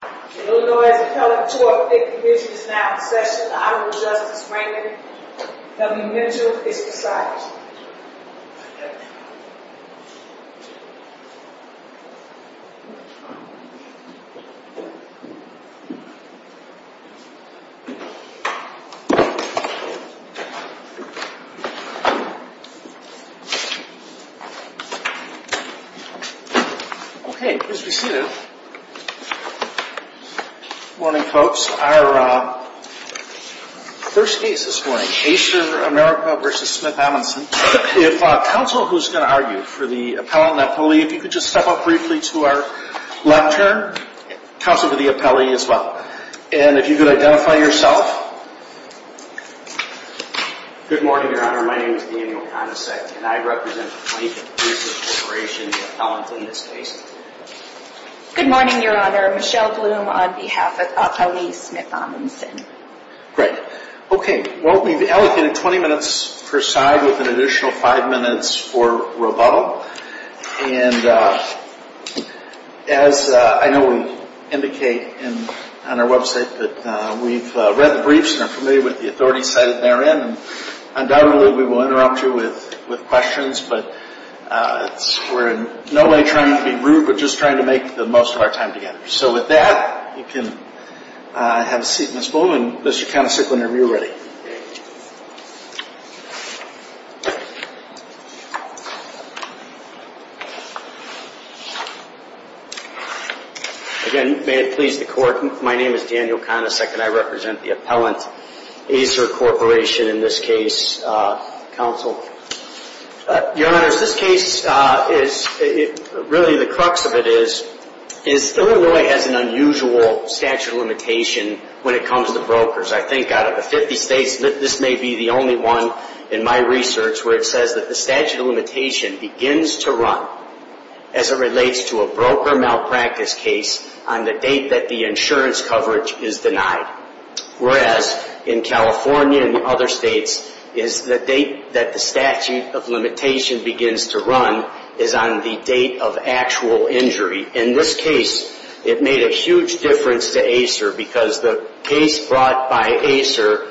The Illinois Assembly 208 Committee is now in session. The Honorable Justice Raymond W. Mitchell is beside you. Okay, please be seated. Good morning, folks. Our first case this morning, Acer America v. SmithAmundsen. If counsel who's going to argue for the appellant and the appellee, if you could just step up briefly to our left turn. Counsel to the appellee as well. And if you could identify yourself. Good morning, Your Honor. My name is Daniel Conacec, and I represent the 23rd Corporation, the appellant in this case. Good morning, Your Honor. Michelle Bloom on behalf of appellee SmithAmundsen. Great. Okay. Well, we've allocated 20 minutes per side with an additional 5 minutes for rebuttal. And as I know we indicate on our website that we've read the briefs and are familiar with the authority cited therein. Undoubtedly, we will interrupt you with questions, but we're in no way trying to be rude. We're just trying to make the most of our time together. So with that, you can have a seat, Ms. Bloom, and Mr. Conacec, whenever you're ready. Again, may it please the Court, my name is Daniel Conacec, and I represent the appellant, Acer Corporation, in this case, counsel. Your Honors, this case is, really the crux of it is, is Illinois has an unusual statute of limitation when it comes to brokers. I think out of the 50 states, this may be the only one in my research where it says that the statute of limitation begins to run as it relates to a broker malpractice case on the date that the insurance coverage is denied. Whereas, in California and other states, is the date that the statute of limitation begins to run is on the date of actual injury. In this case, it made a huge difference to Acer, because the case brought by Acer,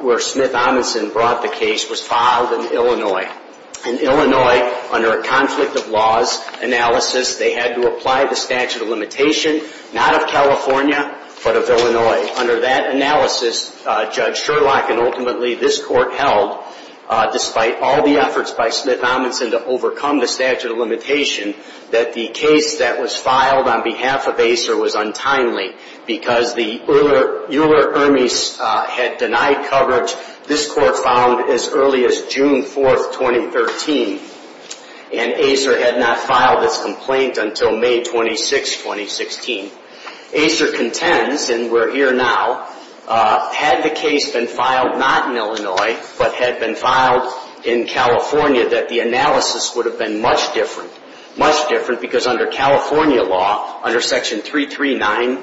where Smith Amundson brought the case, was filed in Illinois. In Illinois, under a conflict of laws analysis, they had to apply the statute of limitation, not of California, but of Illinois. Under that analysis, Judge Sherlock and ultimately this Court held, despite all the efforts by Smith Amundson to overcome the statute of limitation, that the case that was filed on behalf of Acer was untimely, because the Euler-Ermes had denied coverage. This Court found as early as June 4, 2013, and Acer had not filed its complaint until May 26, 2016. Acer contends, and we're here now, had the case been filed not in Illinois, but had been filed in California, that the analysis would have been much different. Much different, because under California law, under Section 339,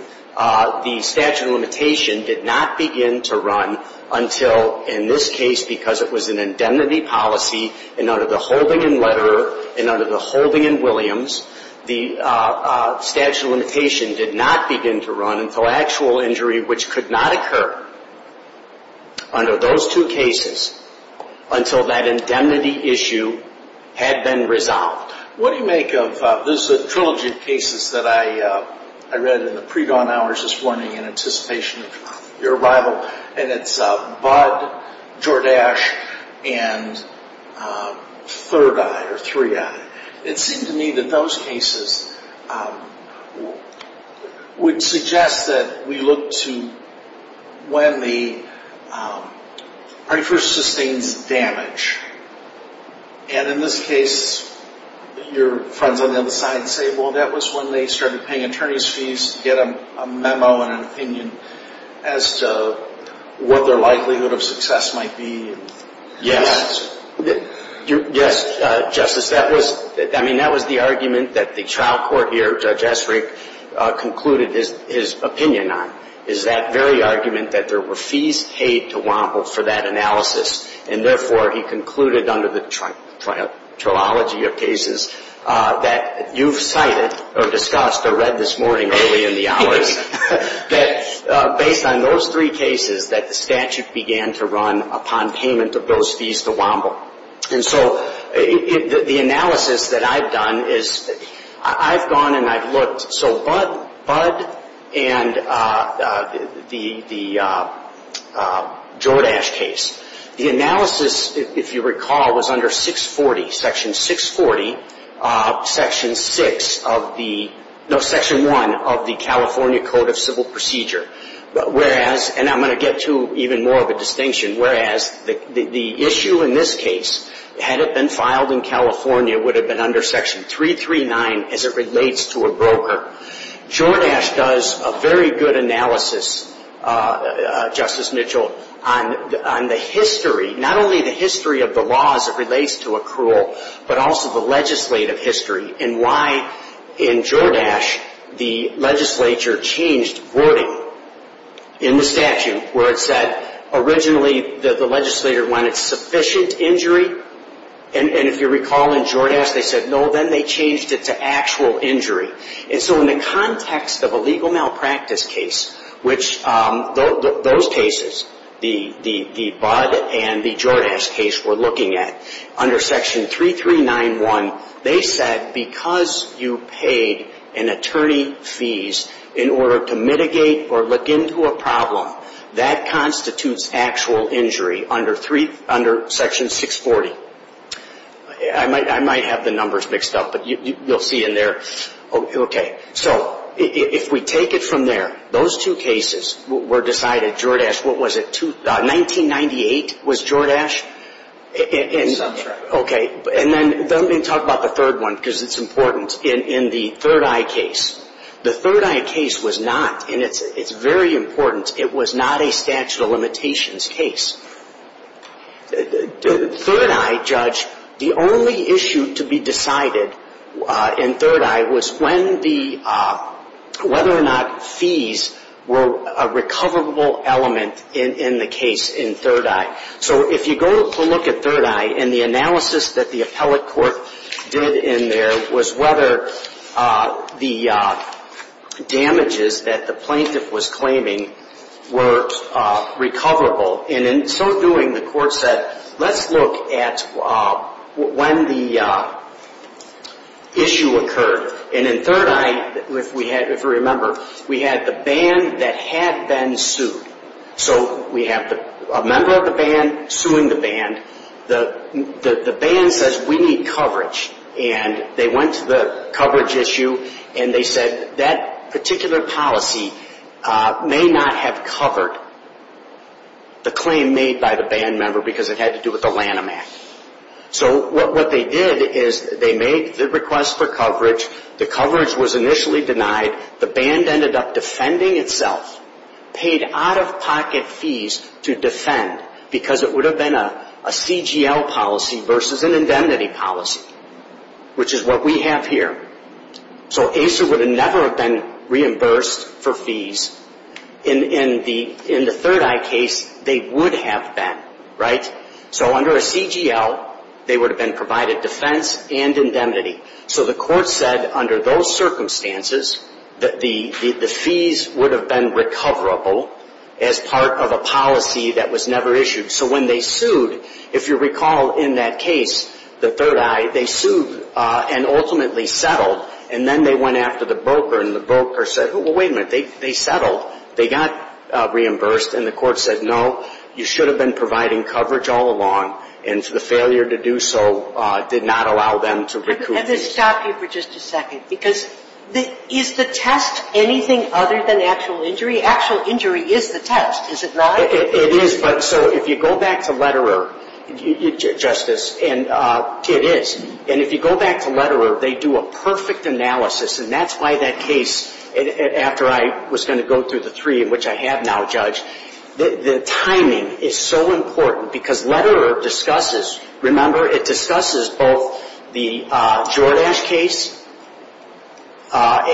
the statute of limitation did not begin to run until, in this case, because it was an indemnity policy, and under the holding in Leterer, and under the holding in Williams, the statute of limitation did not begin to run until actual injury, which could not occur under those two cases, until that indemnity issue had been resolved. What do you make of this trilogy of cases that I read in the predawn hours this morning, in anticipation of your arrival, and it's Budd, Jordache, and Third Eye, or Three Eye. It seemed to me that those cases would suggest that we look to when the party first sustains damage. And in this case, your friends on the other side say, well, that was when they started paying attention to what their likelihood of success might be. Yes. Justice, that was the argument that the trial court here, Judge Esrick, concluded his opinion on, is that very argument that there were fees paid to Wample for that analysis, and therefore, he concluded under the trilogy of cases that you've cited, or discussed, or read this morning early in the hours, that based on those three cases, that the statute began to run upon payment of those fees to Wample. And so the analysis that I've done is, I've gone and I've looked, so Budd and the Jordache case, the analysis, if you recall, was under 640, Section 640, Section 6 of the, no, Section 1 of the California Code of Civil Procedure, whereas, and I'm going to get to even more of a distinction, whereas the issue in this case, had it been filed in California, would have been under Section 339 as it relates to a broker. Jordache does a very good analysis, Justice Mitchell, on the history, not only the history of the laws that relates to accrual, but also the legislative history, and why, in Jordache, the legislature changed wording in the statute, where it said, originally, the legislator wanted sufficient injury, and if you recall, in Jordache, they said, no, then they changed it to actual injury. And so in the context of a legal malpractice case, which those cases, the Budd and the Jordache case we're looking at, under Section 3391, they said, because you paid an attorney fees in order to mitigate or look into a problem, that constitutes actual injury under Section 640. I might have the numbers mixed up, but you'll see in there. Okay. So if we take it from there, those two cases were decided, Jordache, what was it, 1998 was Jordache? Okay. And then let me talk about the third one, because it's important. In the Third Eye case, the Third Eye case was not, and it's very important, it was not a statute of limitations case. Third Eye, Judge, the only issue to be decided in Third Eye was when the, whether or not fees were a recoverable element in the case in Third Eye. So if you go look at Third Eye, and the analysis that the appellate court did in there was whether the damages that the plaintiff was claiming were recoverable. And in so doing, the court said, let's look at when the issue occurred. And in Third Eye, if we remember, we had the ban that had been sued. So we have a member of the ban suing the ban. The ban says we need coverage. And they went to the coverage issue, and they said that particular policy may not have covered the claim made by the ban member because it had to do with the Lanham Act. So what they did is they made the request for coverage, the coverage was initially denied, the ban ended up defending itself, paid out-of-pocket fees to defend because it would have been a CGL policy versus an indemnity policy, which is what we have here. So ACER would have never been reimbursed for fees. In the Third Eye case, they would have been, right? So under a CGL, they would have provided defense and indemnity. So the court said under those circumstances that the fees would have been recoverable as part of a policy that was never issued. So when they sued, if you recall in that case, the Third Eye, they sued and ultimately settled. And then they went after the broker, and the broker said, wait a minute, they did not allow them to recoup these fees. And to stop you for just a second, because is the test anything other than actual injury? Actual injury is the test, is it not? It is, but so if you go back to Letterer, Justice, and it is. And if you go back to Letterer, they do a perfect analysis, and that's why that case, after I was going to go through the three in which I have now judged, the timing is so important, because Letterer discusses, remember, it discusses both the Jordache case, and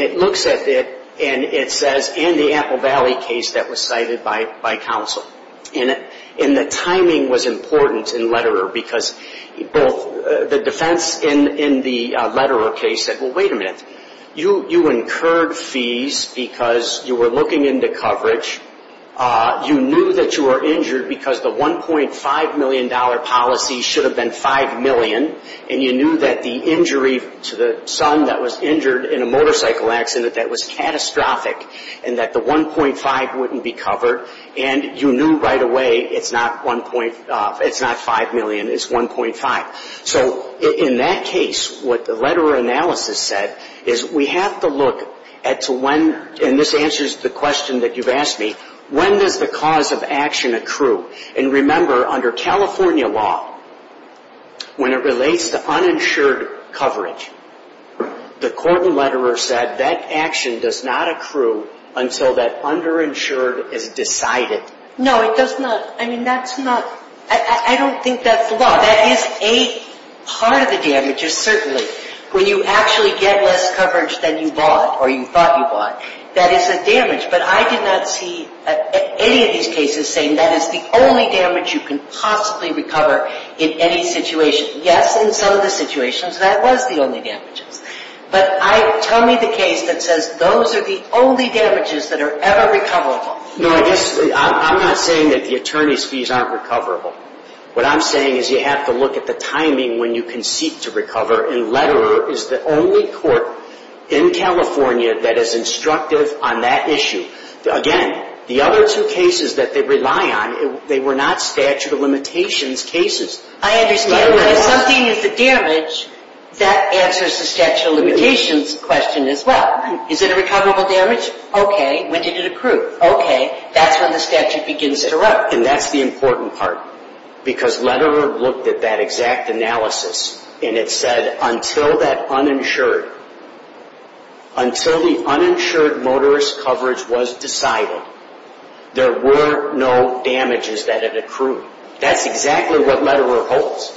it looks at it, and it says, and the Apple Valley case that was cited by counsel. And the timing was important in Letterer, because both the defense in the Letterer case said, well, wait a minute, you incurred fees because you were looking into coverage, you knew that you were injured because the $1.5 million policy should have been 5 million, and you knew that the injury to the son that was injured in a motorcycle accident that was catastrophic, and that the 1.5 wouldn't be covered, and you knew right away it's not 5 million, it's 1.5. So in that case, what the Letterer analysis said is we have to look at to when, and this answers the question that you've asked me, when does the cause of action accrue? And remember, under California law, when it relates to uninsured coverage, the court in Letterer said that action does not accrue until that underinsured is decided. No, it does not. I mean, that's not, I don't think that's the law. That is a part of the damages, certainly. When you actually get less coverage than you bought, or you thought you bought, that is a damage. But I did not see any of these cases saying that is the only damage you can possibly recover in any situation. Yes, in some of the situations, that was the only damages. But tell me the case that says those are the only damages that are ever recoverable. No, I guess, I'm not saying that the attorney's fees aren't recoverable. What I'm saying is you have to look at the timing when you concede to recover, and Letterer is the only court in California that is instructive on that issue. Again, the other two cases that they rely on, they were not statute of limitations cases. I understand, but if something is a damage, that answers the statute of limitations question as well. Is it a recoverable damage? Okay, when did it accrue? Okay, that's when the statute begins to run. And that's the important part, because Letterer looked at that exact analysis, and it said until that uninsured, until the uninsured motorist coverage was decided, there were no damages that it accrued. That's exactly what Letterer holds.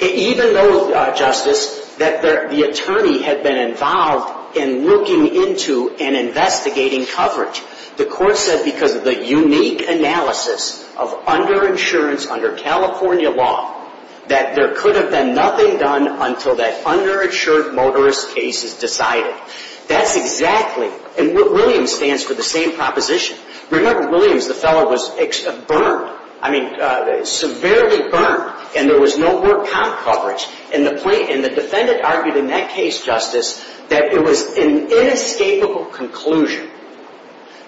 Even though, Justice, that the attorney had been involved in looking into and investigating coverage, the court said because of the unique analysis of underinsurance under California law, that there could have been nothing done until that underinsured motorist case is decided. That's exactly, and Williams stands for the same proposition. Remember, Williams, the fellow was burned, I mean, severely burned, and there was no work comp coverage, and the defendant argued in that case, Justice, that it was an inescapable conclusion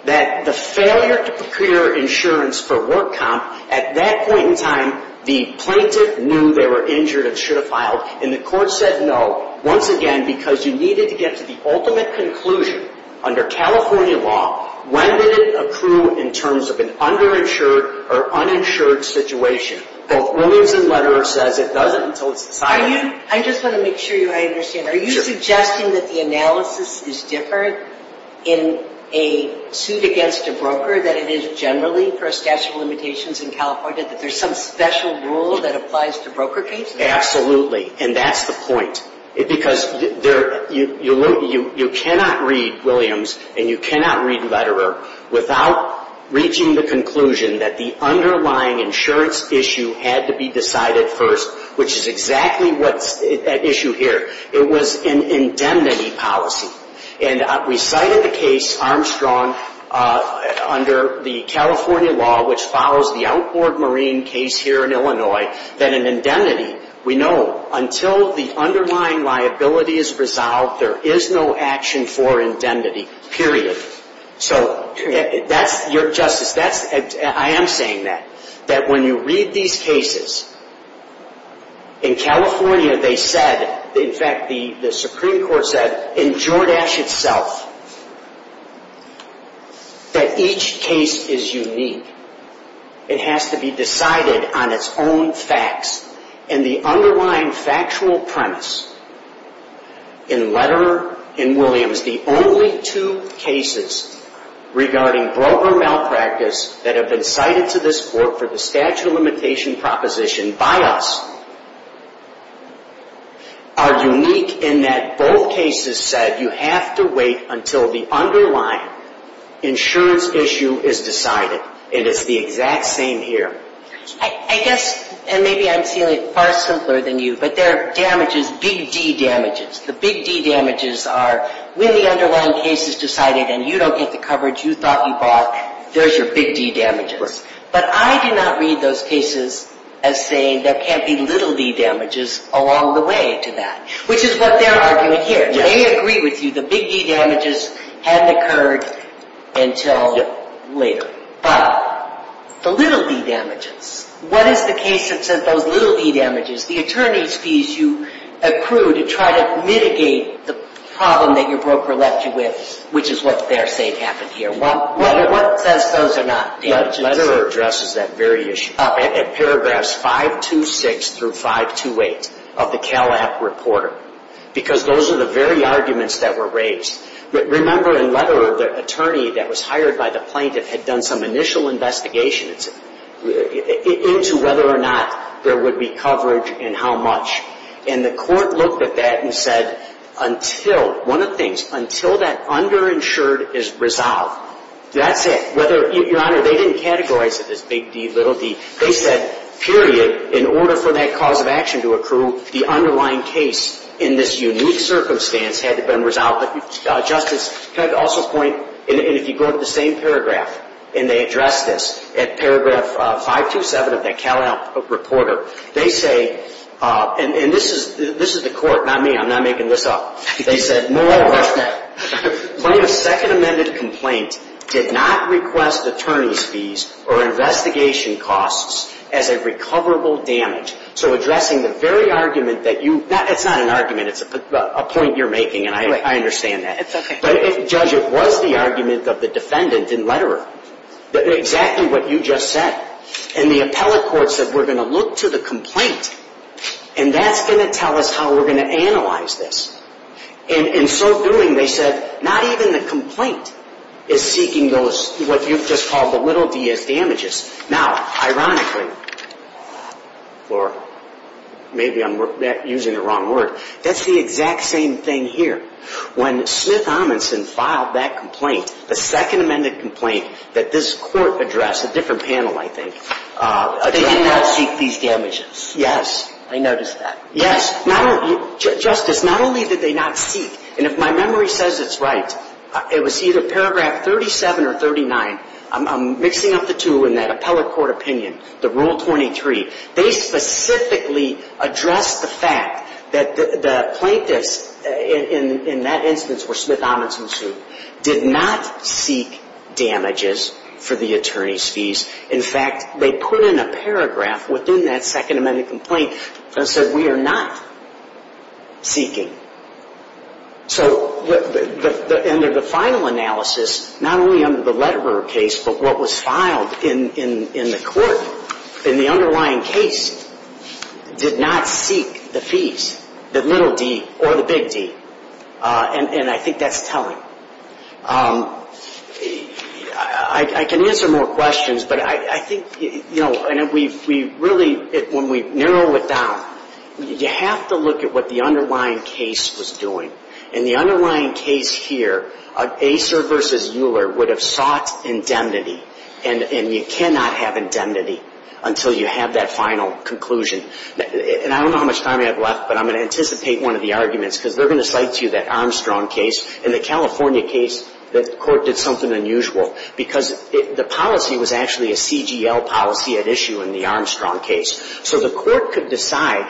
that the failure to procure insurance for work comp, at that point in time, the plaintiff knew they were injured and should have filed, and the court said no, once again, because you needed to get to the ultimate conclusion under California law. When did it accrue in terms of an underinsured or uninsured situation? Both Williams and Letterer says it doesn't until it's decided. Are you, I just want to make sure I understand, are you suggesting that the analysis is different in a suit against a broker than it is generally for a statute of limitations in California, that there's some special rule that applies to broker cases? Absolutely, and that's the point, because you cannot read Williams and you cannot read Letterer without reaching the conclusion that the underlying insurance issue had to be decided first, which is exactly what's at issue here. It was an indemnity policy, and we cited the case, Armstrong, under the California law, which follows the outboard marine case here in Illinois, that an indemnity, we know until the underlying liability is resolved, there is no action for indemnity, period. So, Justice, I am saying that, that when you read these cases, in California they said, in fact the Supreme Court said, in Jordache itself, that each case is unique. It has to be decided on its own facts, and the underlying factual premise in Letterer and Williams, the only two cases regarding broker malpractice that have been cited to this court for the statute of limitation proposition by us, are unique in that both cases said you have to wait until the underlying insurance issue is decided. And it's the exact same here. I guess, and maybe I'm saying it far simpler than you, but there are damages, big D damages. The big D damages are when the underlying case is decided and you don't get the coverage you thought you bought, there's your big D damages. Right. But I do not read those cases as saying there can't be little d damages along the way to that, which is what they're arguing here. They agree with you the big D damages hadn't occurred until later. But the little d damages, what is the case that said those little d damages, the attorney's fees you accrue to try to mitigate the problem that your broker left you with, which is what they're saying happened here. What says those are not damages? Letterer addresses that very issue. In paragraphs 526 through 528 of the Cal App Reporter. Because those are the very arguments that were raised. Remember in Letterer, the attorney that was hired by the plaintiff had done some initial investigations into whether or not there would be coverage and how much. And the court looked at that and said until, one of the things, until that underinsured is resolved, that's it. Whether, Your Honor, they didn't categorize it as big D, little d. They said period, in order for that cause of action to accrue, the underlying case in this unique circumstance had to have been resolved. But Justice, can I also point, and if you go to the same paragraph, and they address this at paragraph 527 of the Cal App Reporter. They say, and this is the court, not me, I'm not making this up. They said, moreover, the plaintiff's second amended complaint did not request attorney's fees or investigation costs as a recoverable damage. So addressing the very argument that you, it's not an argument, it's a point you're making, and I understand that. But Judge, it was the argument of the defendant in Letterer. Exactly what you just said. And the appellate court said, we're going to look to the complaint, and that's going to tell us how we're going to analyze this. In so doing, they said, not even the complaint is seeking those, what you've just called the little d as damages. Now, ironically, or maybe I'm using the wrong word, that's the exact same thing here. When Smith Amundson filed that complaint, the second amended complaint that this court addressed, a different panel, I think. They did not seek these damages. Yes. I noticed that. Yes. Justice, not only did they not seek, and if my memory says it's right, it was either paragraph 37 or 39. I'm mixing up the two in that appellate court opinion, the rule 23. They specifically addressed the fact that the plaintiffs in that instance were Smith Amundson's suit, did not seek damages for the attorney's fees. In fact, they put in a paragraph within that second amended complaint that said, we are not seeking. So the end of the final analysis, not only under the Lederer case, but what was filed in the court, in the underlying case, did not seek the fees, the little d or the big d. And I think that's telling. I can answer more questions, but I think, you know, and we really, when we narrow it down, you have to look at what the underlying case was doing. In the underlying case here, Acer versus Euler would have sought indemnity, and you cannot have indemnity until you have that final conclusion. And I don't know how much time I have left, but I'm going to anticipate one of the arguments, because they're going to cite to you that Armstrong case and the California case that the court did something unusual, because the policy was actually a CGL policy at issue in the Armstrong case. So the court could decide,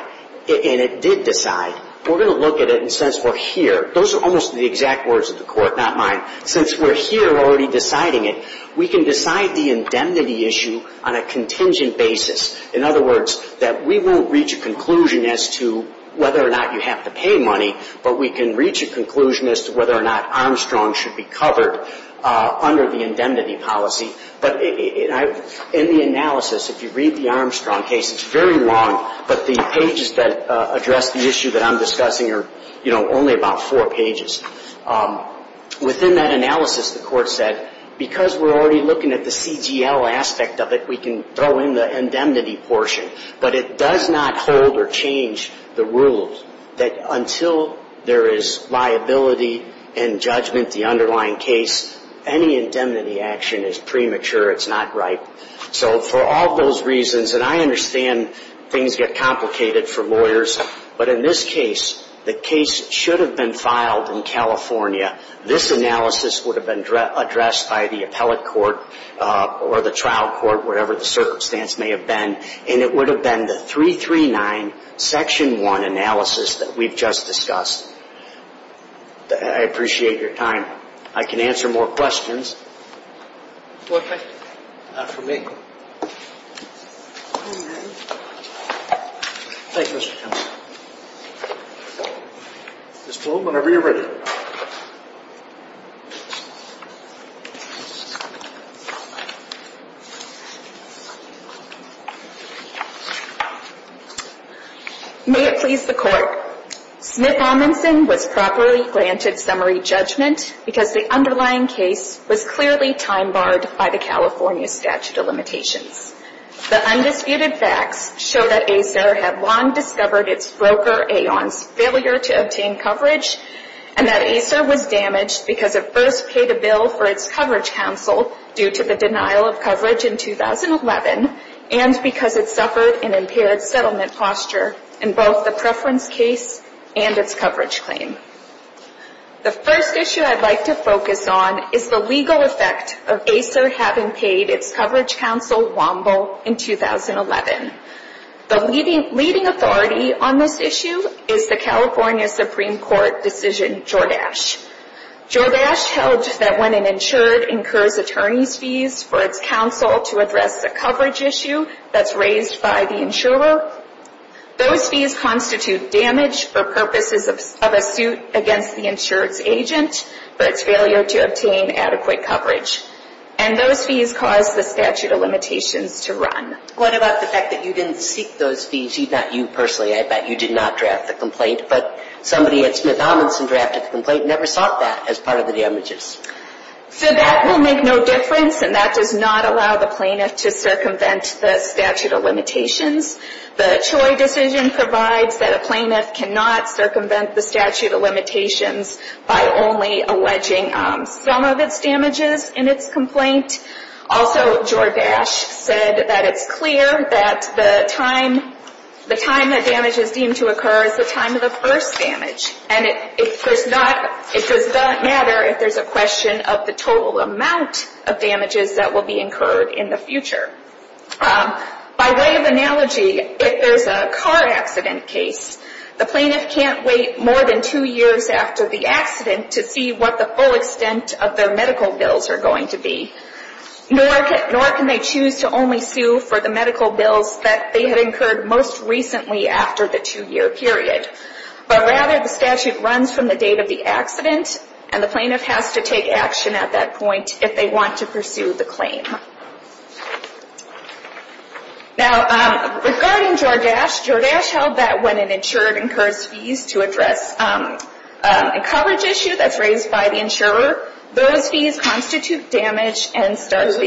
and it did decide, we're going to look at it and since we're here, those are almost the exact words of the court, not mine, since we're here already deciding it, we can decide the indemnity issue on a contingent basis. In other words, that we won't reach a conclusion as to whether or not you have to pay money, but we can reach a conclusion as to whether or not Armstrong should be covered under the indemnity policy. But in the analysis, if you read the Armstrong case, it's very long, but the pages that address the issue that I'm discussing are, you know, only about four pages. Within that analysis, the court said, because we're already looking at the CGL aspect of it, we can throw in the indemnity portion, but it does not hold or change the rules that until there is liability and judgment, the underlying case, any indemnity action is premature. It's not right. So for all those reasons, and I understand things get complicated for lawyers, but in this case, the case should have been filed in California, but it's not. This analysis would have been addressed by the appellate court or the trial court, whatever the circumstance may have been, and it would have been the 339, Section 1 analysis that we've just discussed. I appreciate your time. I can answer more questions. Not for me. Thank you, Mr. Chairman. Ms. Bloom, whenever you're ready. May it please the Court. Smith-Amundson was properly granted summary judgment, because the underlying case was clearly time-barred by the California statute of limitations. The undisputed facts show that ACER had long discovered its broker, Aon's, failure to obtain coverage, and that ACER was damaged because it first paid a bill for its coverage counsel due to the denial of coverage in 2011, and because it suffered an impaired settlement posture in both the preference case and its broker, Aon. The first issue I'd like to focus on is the legal effect of ACER having paid its coverage counsel, Womble, in 2011. The leading authority on this issue is the California Supreme Court decision Jordache. Jordache held that when an insured incurs attorney's fees for its counsel to address a coverage issue that's raised by the insurer, those fees constitute damage to the insurance company. The insured attorney's fees were raised for purposes of a suit against the insurance agent for its failure to obtain adequate coverage, and those fees caused the statute of limitations to run. What about the fact that you didn't seek those fees? Not you personally. I bet you did not draft the complaint, but somebody at Smith-Amundson drafted the complaint and never sought that as part of the damages. So that will make no difference, and that does not allow the plaintiff to circumvent the statute of limitations. The Choi decision provides that a plaintiff cannot circumvent the statute of limitations by only alleging some of its damages in its complaint. Also, Jordache said that it's clear that the time that damage is deemed to occur is the time of the first damage. And it does not matter if there's a question of the total amount of damages that will be incurred in the future. By way of analogy, if there's a car accident case, the plaintiff can't wait more than two years after the accident to see what the full extent of their medical bills are going to be. Nor can they choose to only sue for the medical bills that they had incurred most recently after the two-year period. But rather, the statute runs from the date of the accident, and the plaintiff has to take action at that point if they want to pursue the claim. Now, regarding Jordache, Jordache held that when an insurer incurs fees to address a coverage issue that's raised by the insurer, those fees constitute damage and start the... So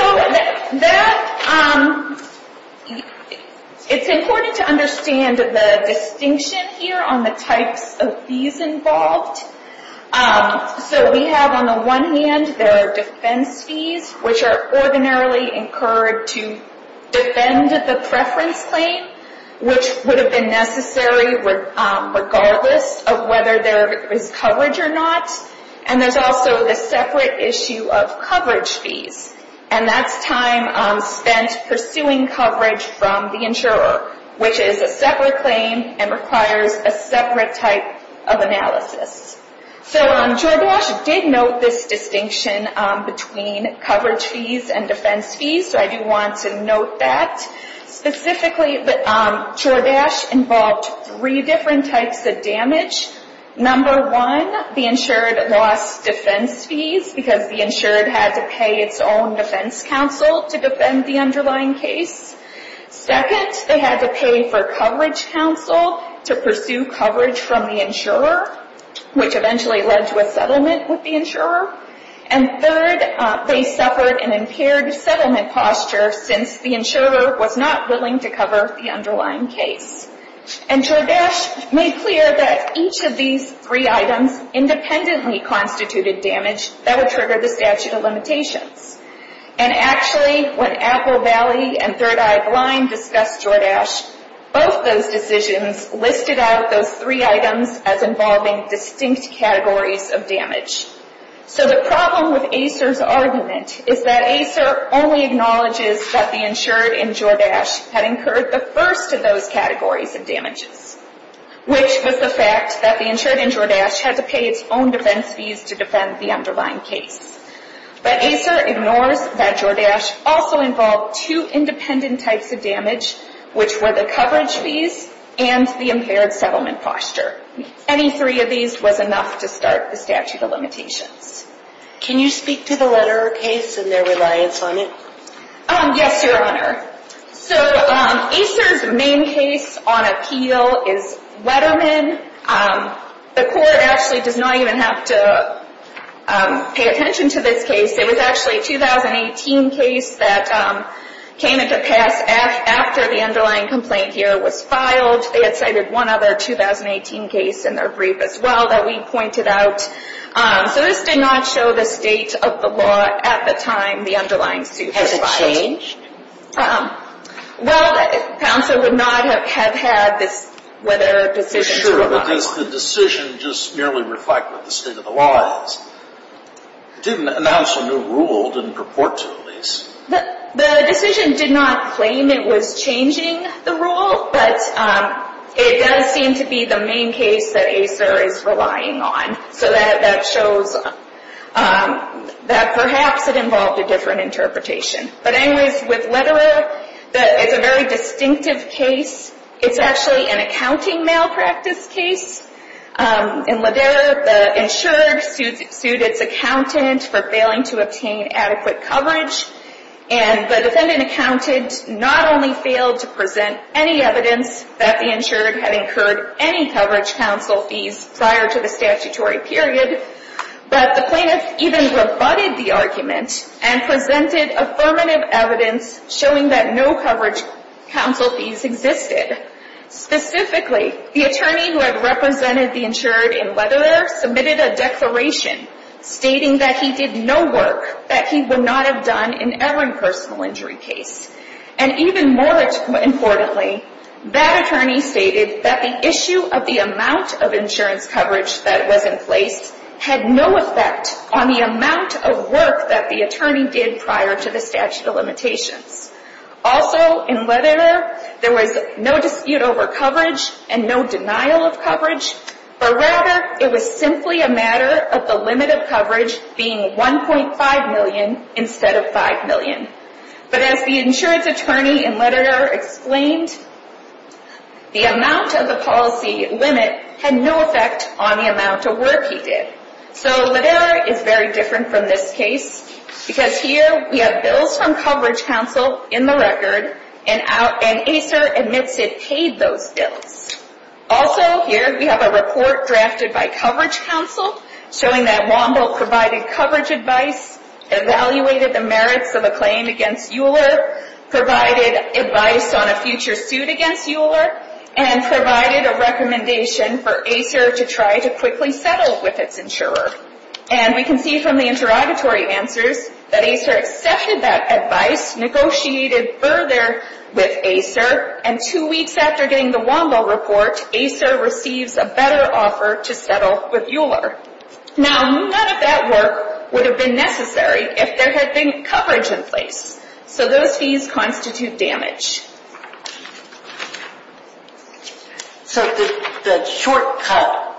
that, it's important to understand the distinction here on the types of fees involved. So we have on the one hand, there are defense fees, which are ordinarily incurred to defend the preference claim, which would have been necessary regardless of whether there was coverage or not. And there's also the separate issue of coverage fees, and that's time spent pursuing coverage from the insurer, which is a separate claim and requires a separate type of analysis. So Jordache did note this distinction between coverage fees and defense fees, so I do want to note that. Specifically, Jordache involved three different types of damage. Number one, the insured lost defense fees because the insured had to pay its own defense counsel to defend the underlying case. Second, they had to pay for coverage counsel to pursue coverage from the insurer, which eventually led to a settlement with the insurer. And third, they suffered an impaired settlement posture since the insurer was not willing to cover the underlying case. And Jordache made clear that each of these three items independently constituted damage that would trigger the statute of limitations. And actually, when Apple Valley and Third Eye Blind discussed Jordache, both those decisions listed out those three items as involving distinct categories of damage. So the problem with ACER's argument is that ACER only acknowledges that the insured in Jordache had incurred the first of those categories of damages, which was the fact that the insured in Jordache had to pay its own defense fees to defend the underlying case. But ACER ignores that Jordache also involved two independent types of damage, which were the coverage fees and the impaired settlement posture. Any three of these was enough to start the statute of limitations. Can you speak to the Lederman case and their reliance on it? Yes, Your Honor. So ACER's main case on appeal is Lederman. The court actually does not even have to pay attention to this case. It was actually a 2018 case that came into pass after the underlying complaint here was filed. They had cited one other 2018 case in their brief as well that we pointed out. So this did not show the state of the law at the time the underlying suit was filed. Has it changed? Well, counsel would not have had this whether decisions were relied on. Sure, but does the decision just merely reflect what the state of the law is? It didn't announce a new rule. It didn't purport to, at least. The decision did not claim it was changing the rule, but it does seem to be the main case that ACER is relying on. So that shows that perhaps it involved a different interpretation. But anyways, with Lederman, it's a very distinctive case. It's actually an accounting malpractice case. In Lederman, the insured sued its accountant for failing to obtain adequate coverage, and the defendant accountant not only failed to present any evidence that the insured had incurred any coverage counsel fees prior to the statutory period, but the plaintiff even rebutted the argument and presented affirmative evidence showing that no coverage counsel fees existed. Specifically, the attorney who had represented the insured in Lederman submitted a declaration stating that he did no work that he would not have done in every personal injury case. And even more importantly, that attorney stated that the issue of the amount of insurance coverage that was in place had no effect on the amount of work that the attorney did prior to the statute of limitations. Also, in Lederman, there was no dispute over coverage and no denial of coverage, but rather it was simply a matter of the limit of coverage being $1.5 million instead of $5 million. But as the insurance attorney in Lederman explained, the amount of the policy limit had no effect on the amount of work he did. So Lederman is very different from this case because here we have bills from coverage counsel in the record and ACER admits it paid those bills. Also, here we have a report drafted by coverage counsel showing that Womble provided coverage advice, evaluated the merits of a claim against Euler, provided advice on a future suit against Euler, and provided a recommendation for ACER to try to quickly settle with its insurer. And we can see from the interrogatory answers that ACER accepted that advice, negotiated further with ACER, and two weeks after getting the Womble report, ACER receives a better offer to settle with Euler. Now, none of that work would have been necessary if there had been coverage in place. So those fees constitute damage. So the shortcut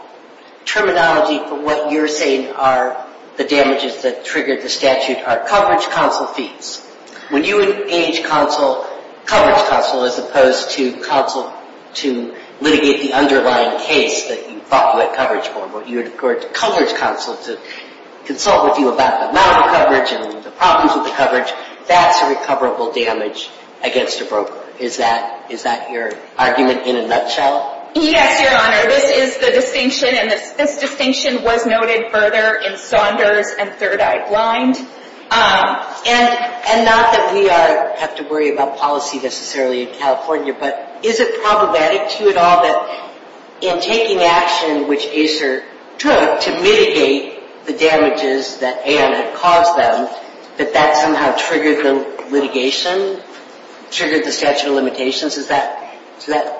terminology for what you're saying are the damages that triggered the statute are coverage counsel fees. When you engage coverage counsel as opposed to counsel to litigate the underlying case that you thought you had coverage for, where you'd go to coverage counsel to consult with you about the amount of coverage and the problems with the coverage, that's a recoverable damage against a broker. Is that your argument in a nutshell? Yes, Your Honor. This is the distinction, and this distinction was noted further in Saunders and Third Eye Blind. And not that we have to worry about policy necessarily in California, but is it problematic to you at all that in taking action which ACER took to mitigate the damages that AR had caused them, that that somehow triggered the litigation, triggered the statute of limitations? Is that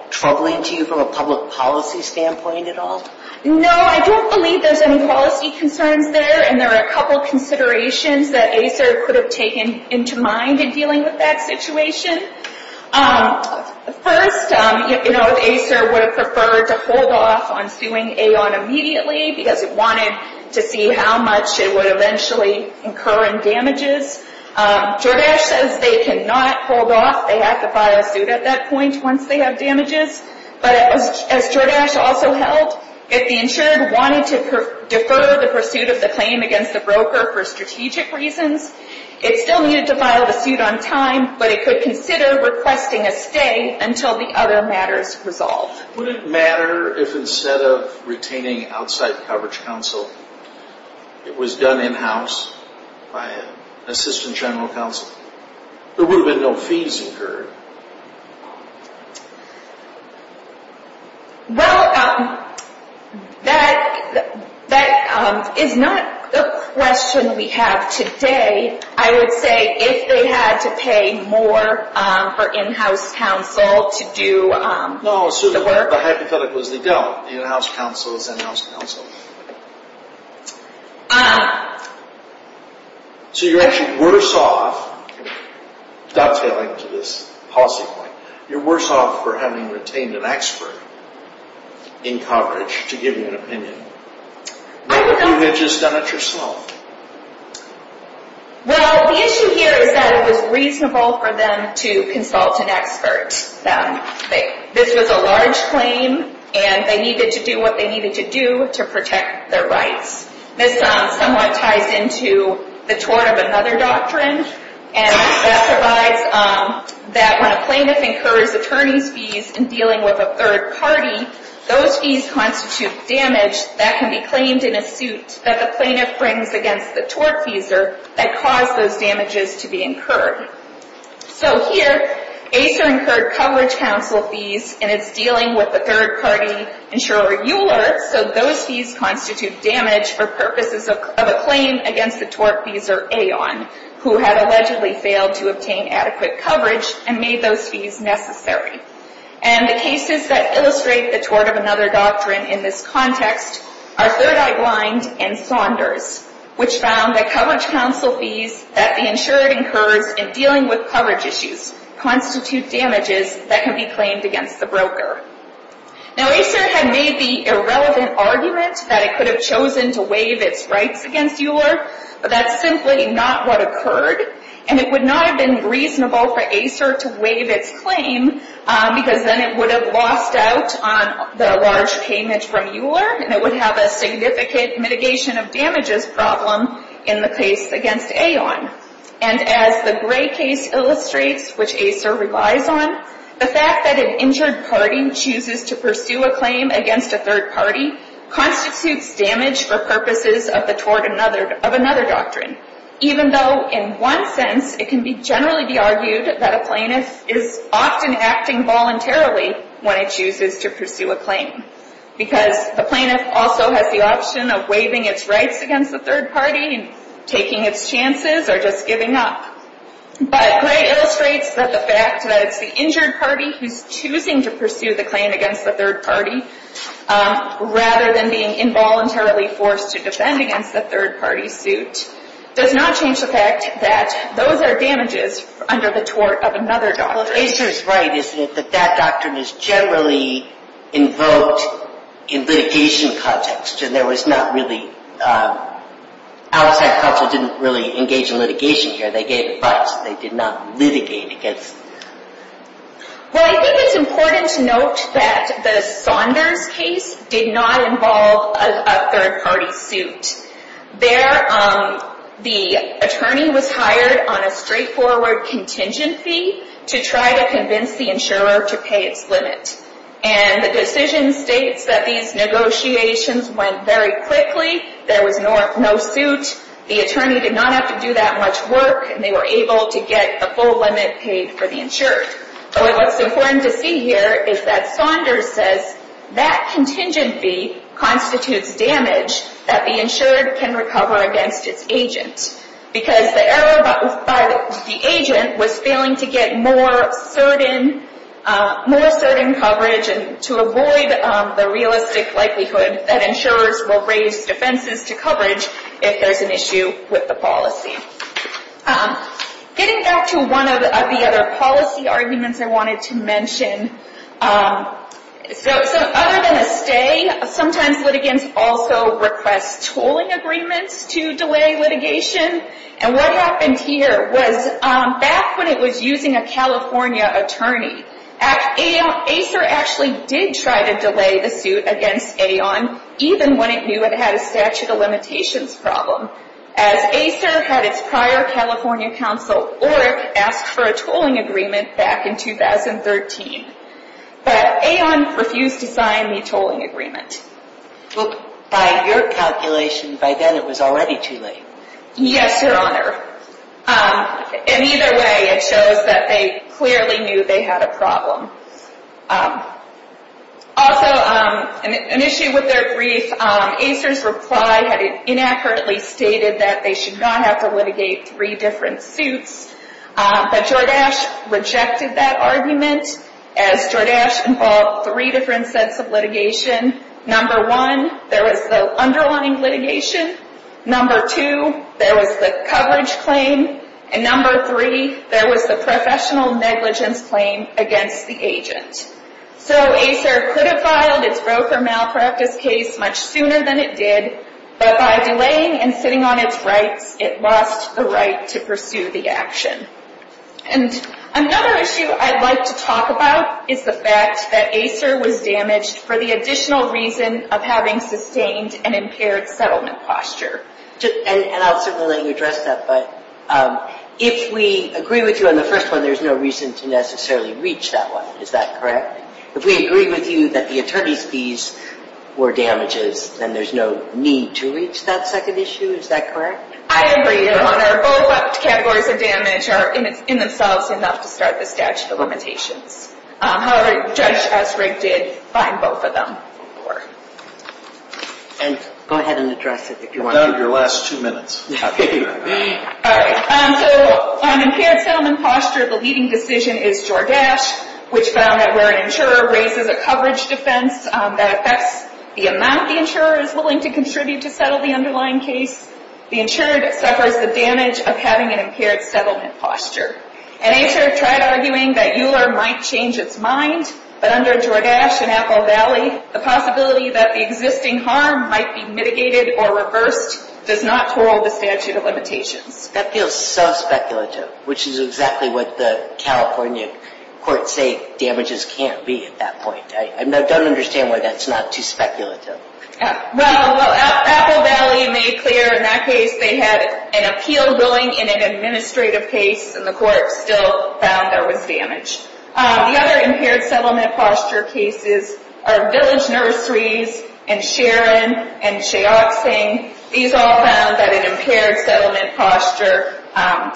troubling to you from a public policy standpoint at all? No, I don't believe there's any policy concerns there, and there are a couple considerations that ACER could have taken into mind in dealing with that situation. First, if ACER would have preferred to hold off on suing AON immediately because it wanted to see how much it would eventually incur in damages. Jordache says they cannot hold off. They have to file a suit at that point once they have damages. But as Jordache also held, if the insured wanted to they still needed to file the suit on time, but it could consider requesting a stay until the other matters resolved. Would it matter if instead of retaining outside coverage counsel, it was done in-house by an assistant general counsel? There would have been no fees incurred. Well, that is not the question we have today. I would say if they had to pay more for in-house counsel to do the work. No, the hypothetical is they don't. In-house counsel is in-house counsel. So you're actually worse off, dovetailing to this policy point, you're worse off for having retained an expert in coverage to give you an opinion What if you had just done it yourself? Well, the issue here is that it was reasonable for them to consult an expert. This was a large claim and they needed to do what they needed to do to protect their rights. This somewhat ties into the tort of another doctrine and that provides that when a plaintiff incurs attorney's fees in dealing with a third party, those fees constitute damage that can be claimed in a suit that the plaintiff brings against the tortfeasor that caused those damages to be incurred. So here, ACER incurred coverage counsel fees in its dealing with the third party insurer Euler, so those fees constitute damage for purposes of a claim against the tortfeasor Aon, who had allegedly failed to obtain adequate coverage and made those fees necessary. And the cases that illustrate the tort of another doctrine in this context are Third Eye Blind and Saunders, which found that coverage counsel fees that the insurer incurs in dealing with coverage issues constitute damages that can be claimed against the broker. Now, ACER had made the irrelevant argument that it could have chosen to waive its rights against Euler, but that's simply not what occurred and it would not have been reasonable for ACER to waive its claim because then it would have lost out on the large payment from Euler and it would have a significant mitigation of damages problem in the case against Aon. And as the gray case illustrates, which ACER relies on, the fact that an injured party chooses to pursue a claim against a third party constitutes damage for purposes of the tort of another doctrine, even though in one sense it can generally be argued that a plaintiff is often acting voluntarily when it chooses to pursue a claim because the plaintiff also has the option of waiving its rights against the third party and taking its chances or just giving up. But gray illustrates that the fact that it's the injured party who's choosing to pursue the claim against the third party rather than being involuntarily forced to defend against the third party suit does not change the fact that those are damages under the tort of another doctrine. Well, ACER is right, isn't it, that that doctrine is generally invoked in litigation context and there was not really, outside counsel didn't really engage in litigation here. They gave advice. They did not litigate against Well, I think it's important to note that the Saunders case did not involve a third party suit. There, the attorney was hired on a straightforward contingent fee to try to convince the insurer to pay its limit. And the decision states that these negotiations went very quickly. There was no suit. The attorney did not have to do that much work and they were able to get the full limit paid for the insured. But what's important to see here is that Saunders says that contingent fee constitutes damage that the insured can recover against its agent because the agent was failing to get more certain coverage and to avoid the realistic likelihood that insurers will raise defenses to coverage if there's an issue with the policy. Getting back to one of the other policy arguments I wanted to mention. So other than a stay, sometimes litigants also request tolling agreements to delay litigation. And what happened here was back when it was using a California attorney, ACER actually did try to delay the suit against AON even when it knew it had a statute of limitations problem. As ACER had its prior California counsel, ORC, asked for a tolling agreement back in 2013. But AON refused to sign the tolling agreement. Well, by your calculation, by then it was already too late. Yes, Your Honor. In either way, it shows that they clearly knew they had a problem. Also, an issue with their brief, ACER's reply had inaccurately stated that they should not have to litigate three different suits. But Jordache rejected that argument as Jordache involved three different sets of litigation. Number one, there was the underlining litigation. Number two, there was the coverage claim. And number three, there was the professional negligence claim against the agent. So ACER could have filed its Roe v. Malpractice case much sooner than it did. But by delaying and sitting on its rights, it lost the right to pursue the action. And another issue I'd like to talk about is the fact that ACER was damaged for the additional reason of having sustained an impaired settlement posture. And I'll certainly let you address that, but if we agree with you on the first one, there's no reason to necessarily reach that one. Is that correct? If we agree with you that the attorney's fees were damages, then there's no need to reach that second issue. Is that correct? I agree, Your Honor. Both categories of damage are in themselves enough to start the statute of limitations. However, the judge, as Rick did, fined both of them. And go ahead and address it if you want to. So on impaired settlement posture, the leading decision is Jordache, which found that where an insurer raises a coverage defense that affects the amount the insurer is willing to contribute to settle the underlying case, the insurer suffers the damage of having an impaired settlement posture. And ACER tried arguing that Euler might change its mind, but under Jordache and Apple Valley, the possibility that the existing harm might be mitigated or reversed does not twirl the statute of limitations. That feels so speculative, which is exactly what the California courts say damages can't be at that point. I don't understand why that's not too speculative. Well, Apple Valley made clear in that case they had an appeal ruling in an administrative case, and the court still found there was damage. The other impaired settlement posture cases are Village Nurseries and Sharon and Sheoxing. These all found that an impaired settlement posture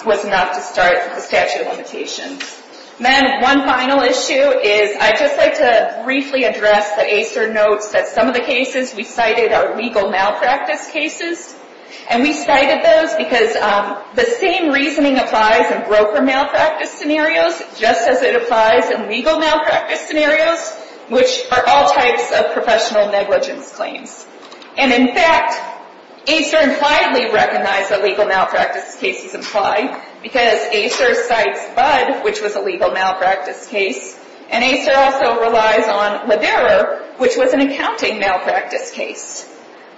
was enough to start the statute of limitations. Then one final issue is I'd just like to briefly address that ACER notes that some of the cases we cited are legal malpractice cases. And we cited those because the same reasoning applies in broker malpractice scenarios just as it applies in legal malpractice scenarios, which are all types of professional negligence claims. And in fact, ACER impliedly recognized that legal malpractice cases apply because ACER cites Budd, which was a legal malpractice case, and ACER also relies on Lavera, which was an accounting malpractice case.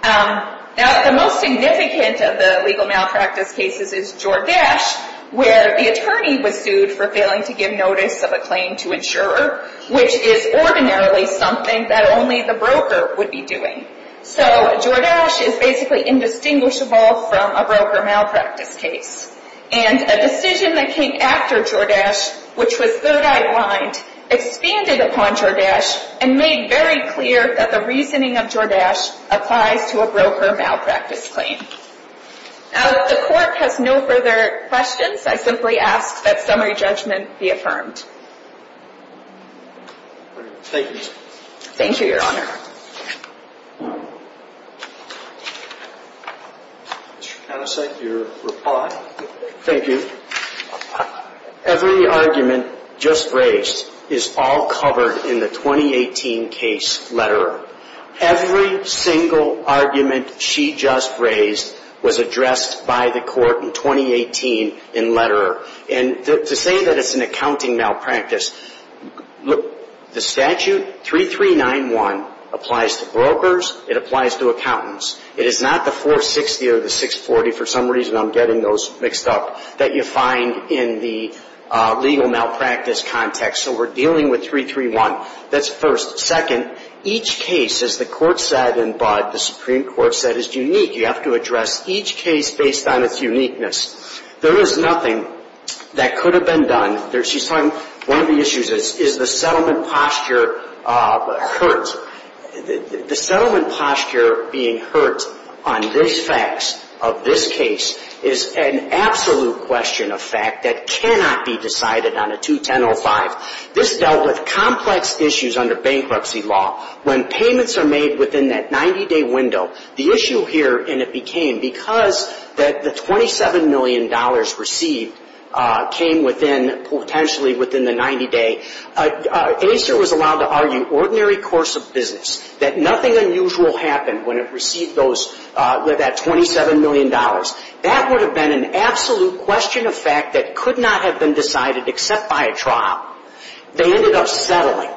Now, the most significant of the legal malpractice cases is Jordache, where the attorney was sued for failing to give notice of a claim to insurer, which is ordinarily something that only the broker would be doing. So Jordache is basically indistinguishable from a broker malpractice case. And a decision that came after Jordache, which was third-eye-blind, expanded upon Jordache and made very clear that the reasoning of Jordache applies to a broker malpractice claim. Now, if the Court has no further questions, I simply ask that summary judgment be affirmed. Thank you. Thank you, Your Honor. Mr. Connisey, your reply? Thank you. Every argument just raised is all covered in the 2018 case Letterer. Every single argument she just raised was addressed by the Court in 2018 in Letterer. And to say that it's an accounting malpractice, the statute 3391 applies to brokers, it applies to accountants. It is not the 460 or the 640, for some reason I'm getting those mixed up, that you find in the legal malpractice context. So we're dealing with 331. That's first. Second, each case, as the Court said in Budd, the Supreme Court said is unique. You have to address each case based on its uniqueness. There is nothing that could have been done. She's talking, one of the issues is the settlement posture hurt. The settlement posture being hurt on these facts of this case is an absolute question of fact that cannot be decided on a 21005. This dealt with complex issues under bankruptcy law. When payments are made within that 90-day window, the issue here, and it became because that the $27 million received came within, potentially within the 90-day, ACER was allowed to argue ordinary course of business, that nothing unusual happened when it received those, that $27 million. That would have been an absolute question of fact that could not have been decided except by a trial. They ended up settling.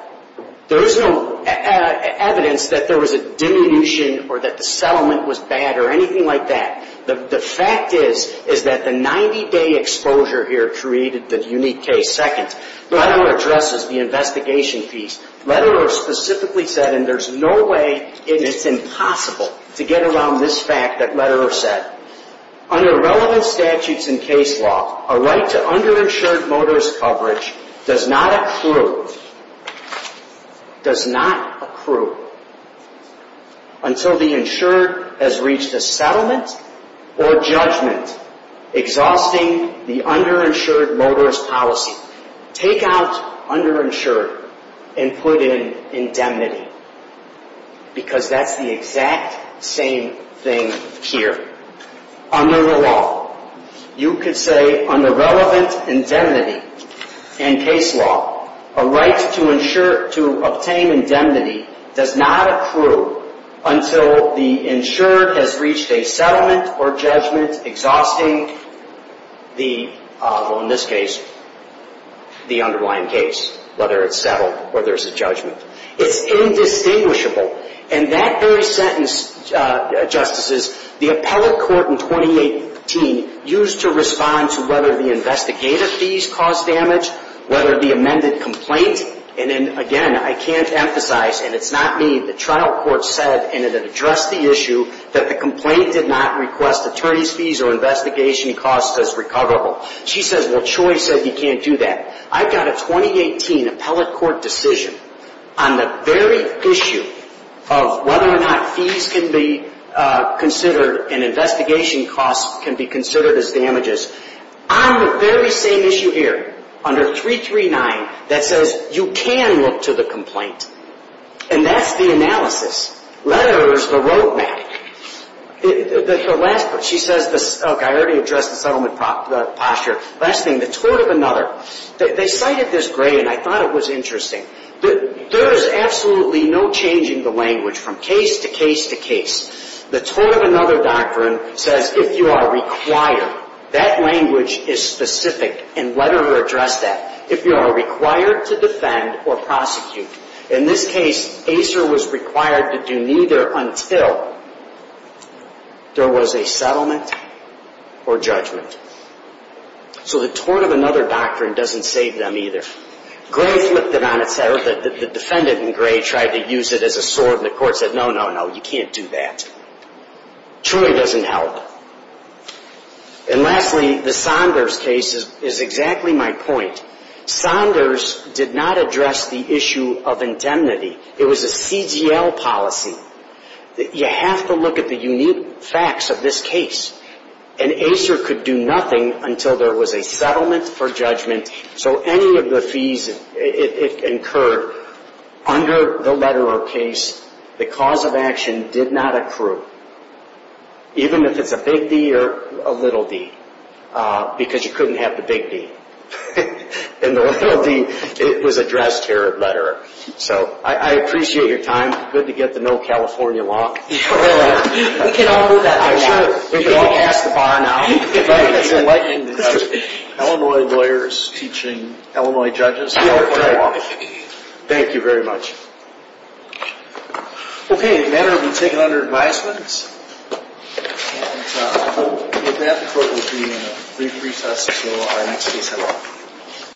There is no evidence that there was a diminution or that the settlement was bad or anything like that. The fact is that the 90-day exposure here created the unique case. Second, letter addresses the investigation piece. Lederer specifically said, and there's no way and it's impossible to get around this fact that Lederer said, under relevant statutes and case law, a right to underinsured motorist coverage does not accrue, does not accrue until the insured has reached a settlement or judgment exhausting the underinsured motorist policy. Take out underinsured and put in indemnity because that's the exact same thing here. Under the law, you could say under relevant indemnity and case law, a right to obtain indemnity does not accrue until the insured has reached a settlement or judgment exhausting the, in this case, the underlying case, whether it's settled or there's a judgment. It's indistinguishable. And that very sentence, Justices, the appellate court in 2018 used to respond to whether the investigator fees caused damage, whether the amended complaint, and again, I can't emphasize, and it's not me, the trial court said and it addressed the issue that the complaint did not request attorney's fees or investigation costs as recoverable. She says, well, Choi said he can't do that. I've got a 2018 appellate court decision on the very issue of whether or not fees can be considered and investigation costs can be considered as damages on the very same issue here under 339 that says you can look to the complaint. And that's the analysis. Letterer's the roadmap. The last part, she says, okay, I already addressed the settlement posture. Last thing, the tort of another. They cited this grade and I thought it was interesting. There is absolutely no changing the language from case to case to case. The tort of another doctrine says if you are required, that you are required to defend or prosecute. In this case, Acer was required to do neither until there was a settlement or judgment. So the tort of another doctrine doesn't save them either. Gray flipped it on its head. The defendant in Gray tried to use it as a sword and the court said no, no, no, you can't do that. Choi doesn't help. And lastly, the Saunders case is exactly my point. Saunders did not address the issue of indemnity. It was a CGL policy. You have to look at the unique facts of this case. And Acer could do nothing until there was a settlement for judgment. So any of the fees incurred under the letterer case, the cause of the settlement was either a big D or a little d, because you couldn't have the big d. And the little d was addressed here at letterer. So I appreciate your time. Good to get the no California law. We can all do that now. We can all pass the bar now. Illinois lawyers teaching Illinois judges no California law. Thank you very much. Okay, the matter will be taken under advisements. And with that the court will be in a brief recess until our next case at law.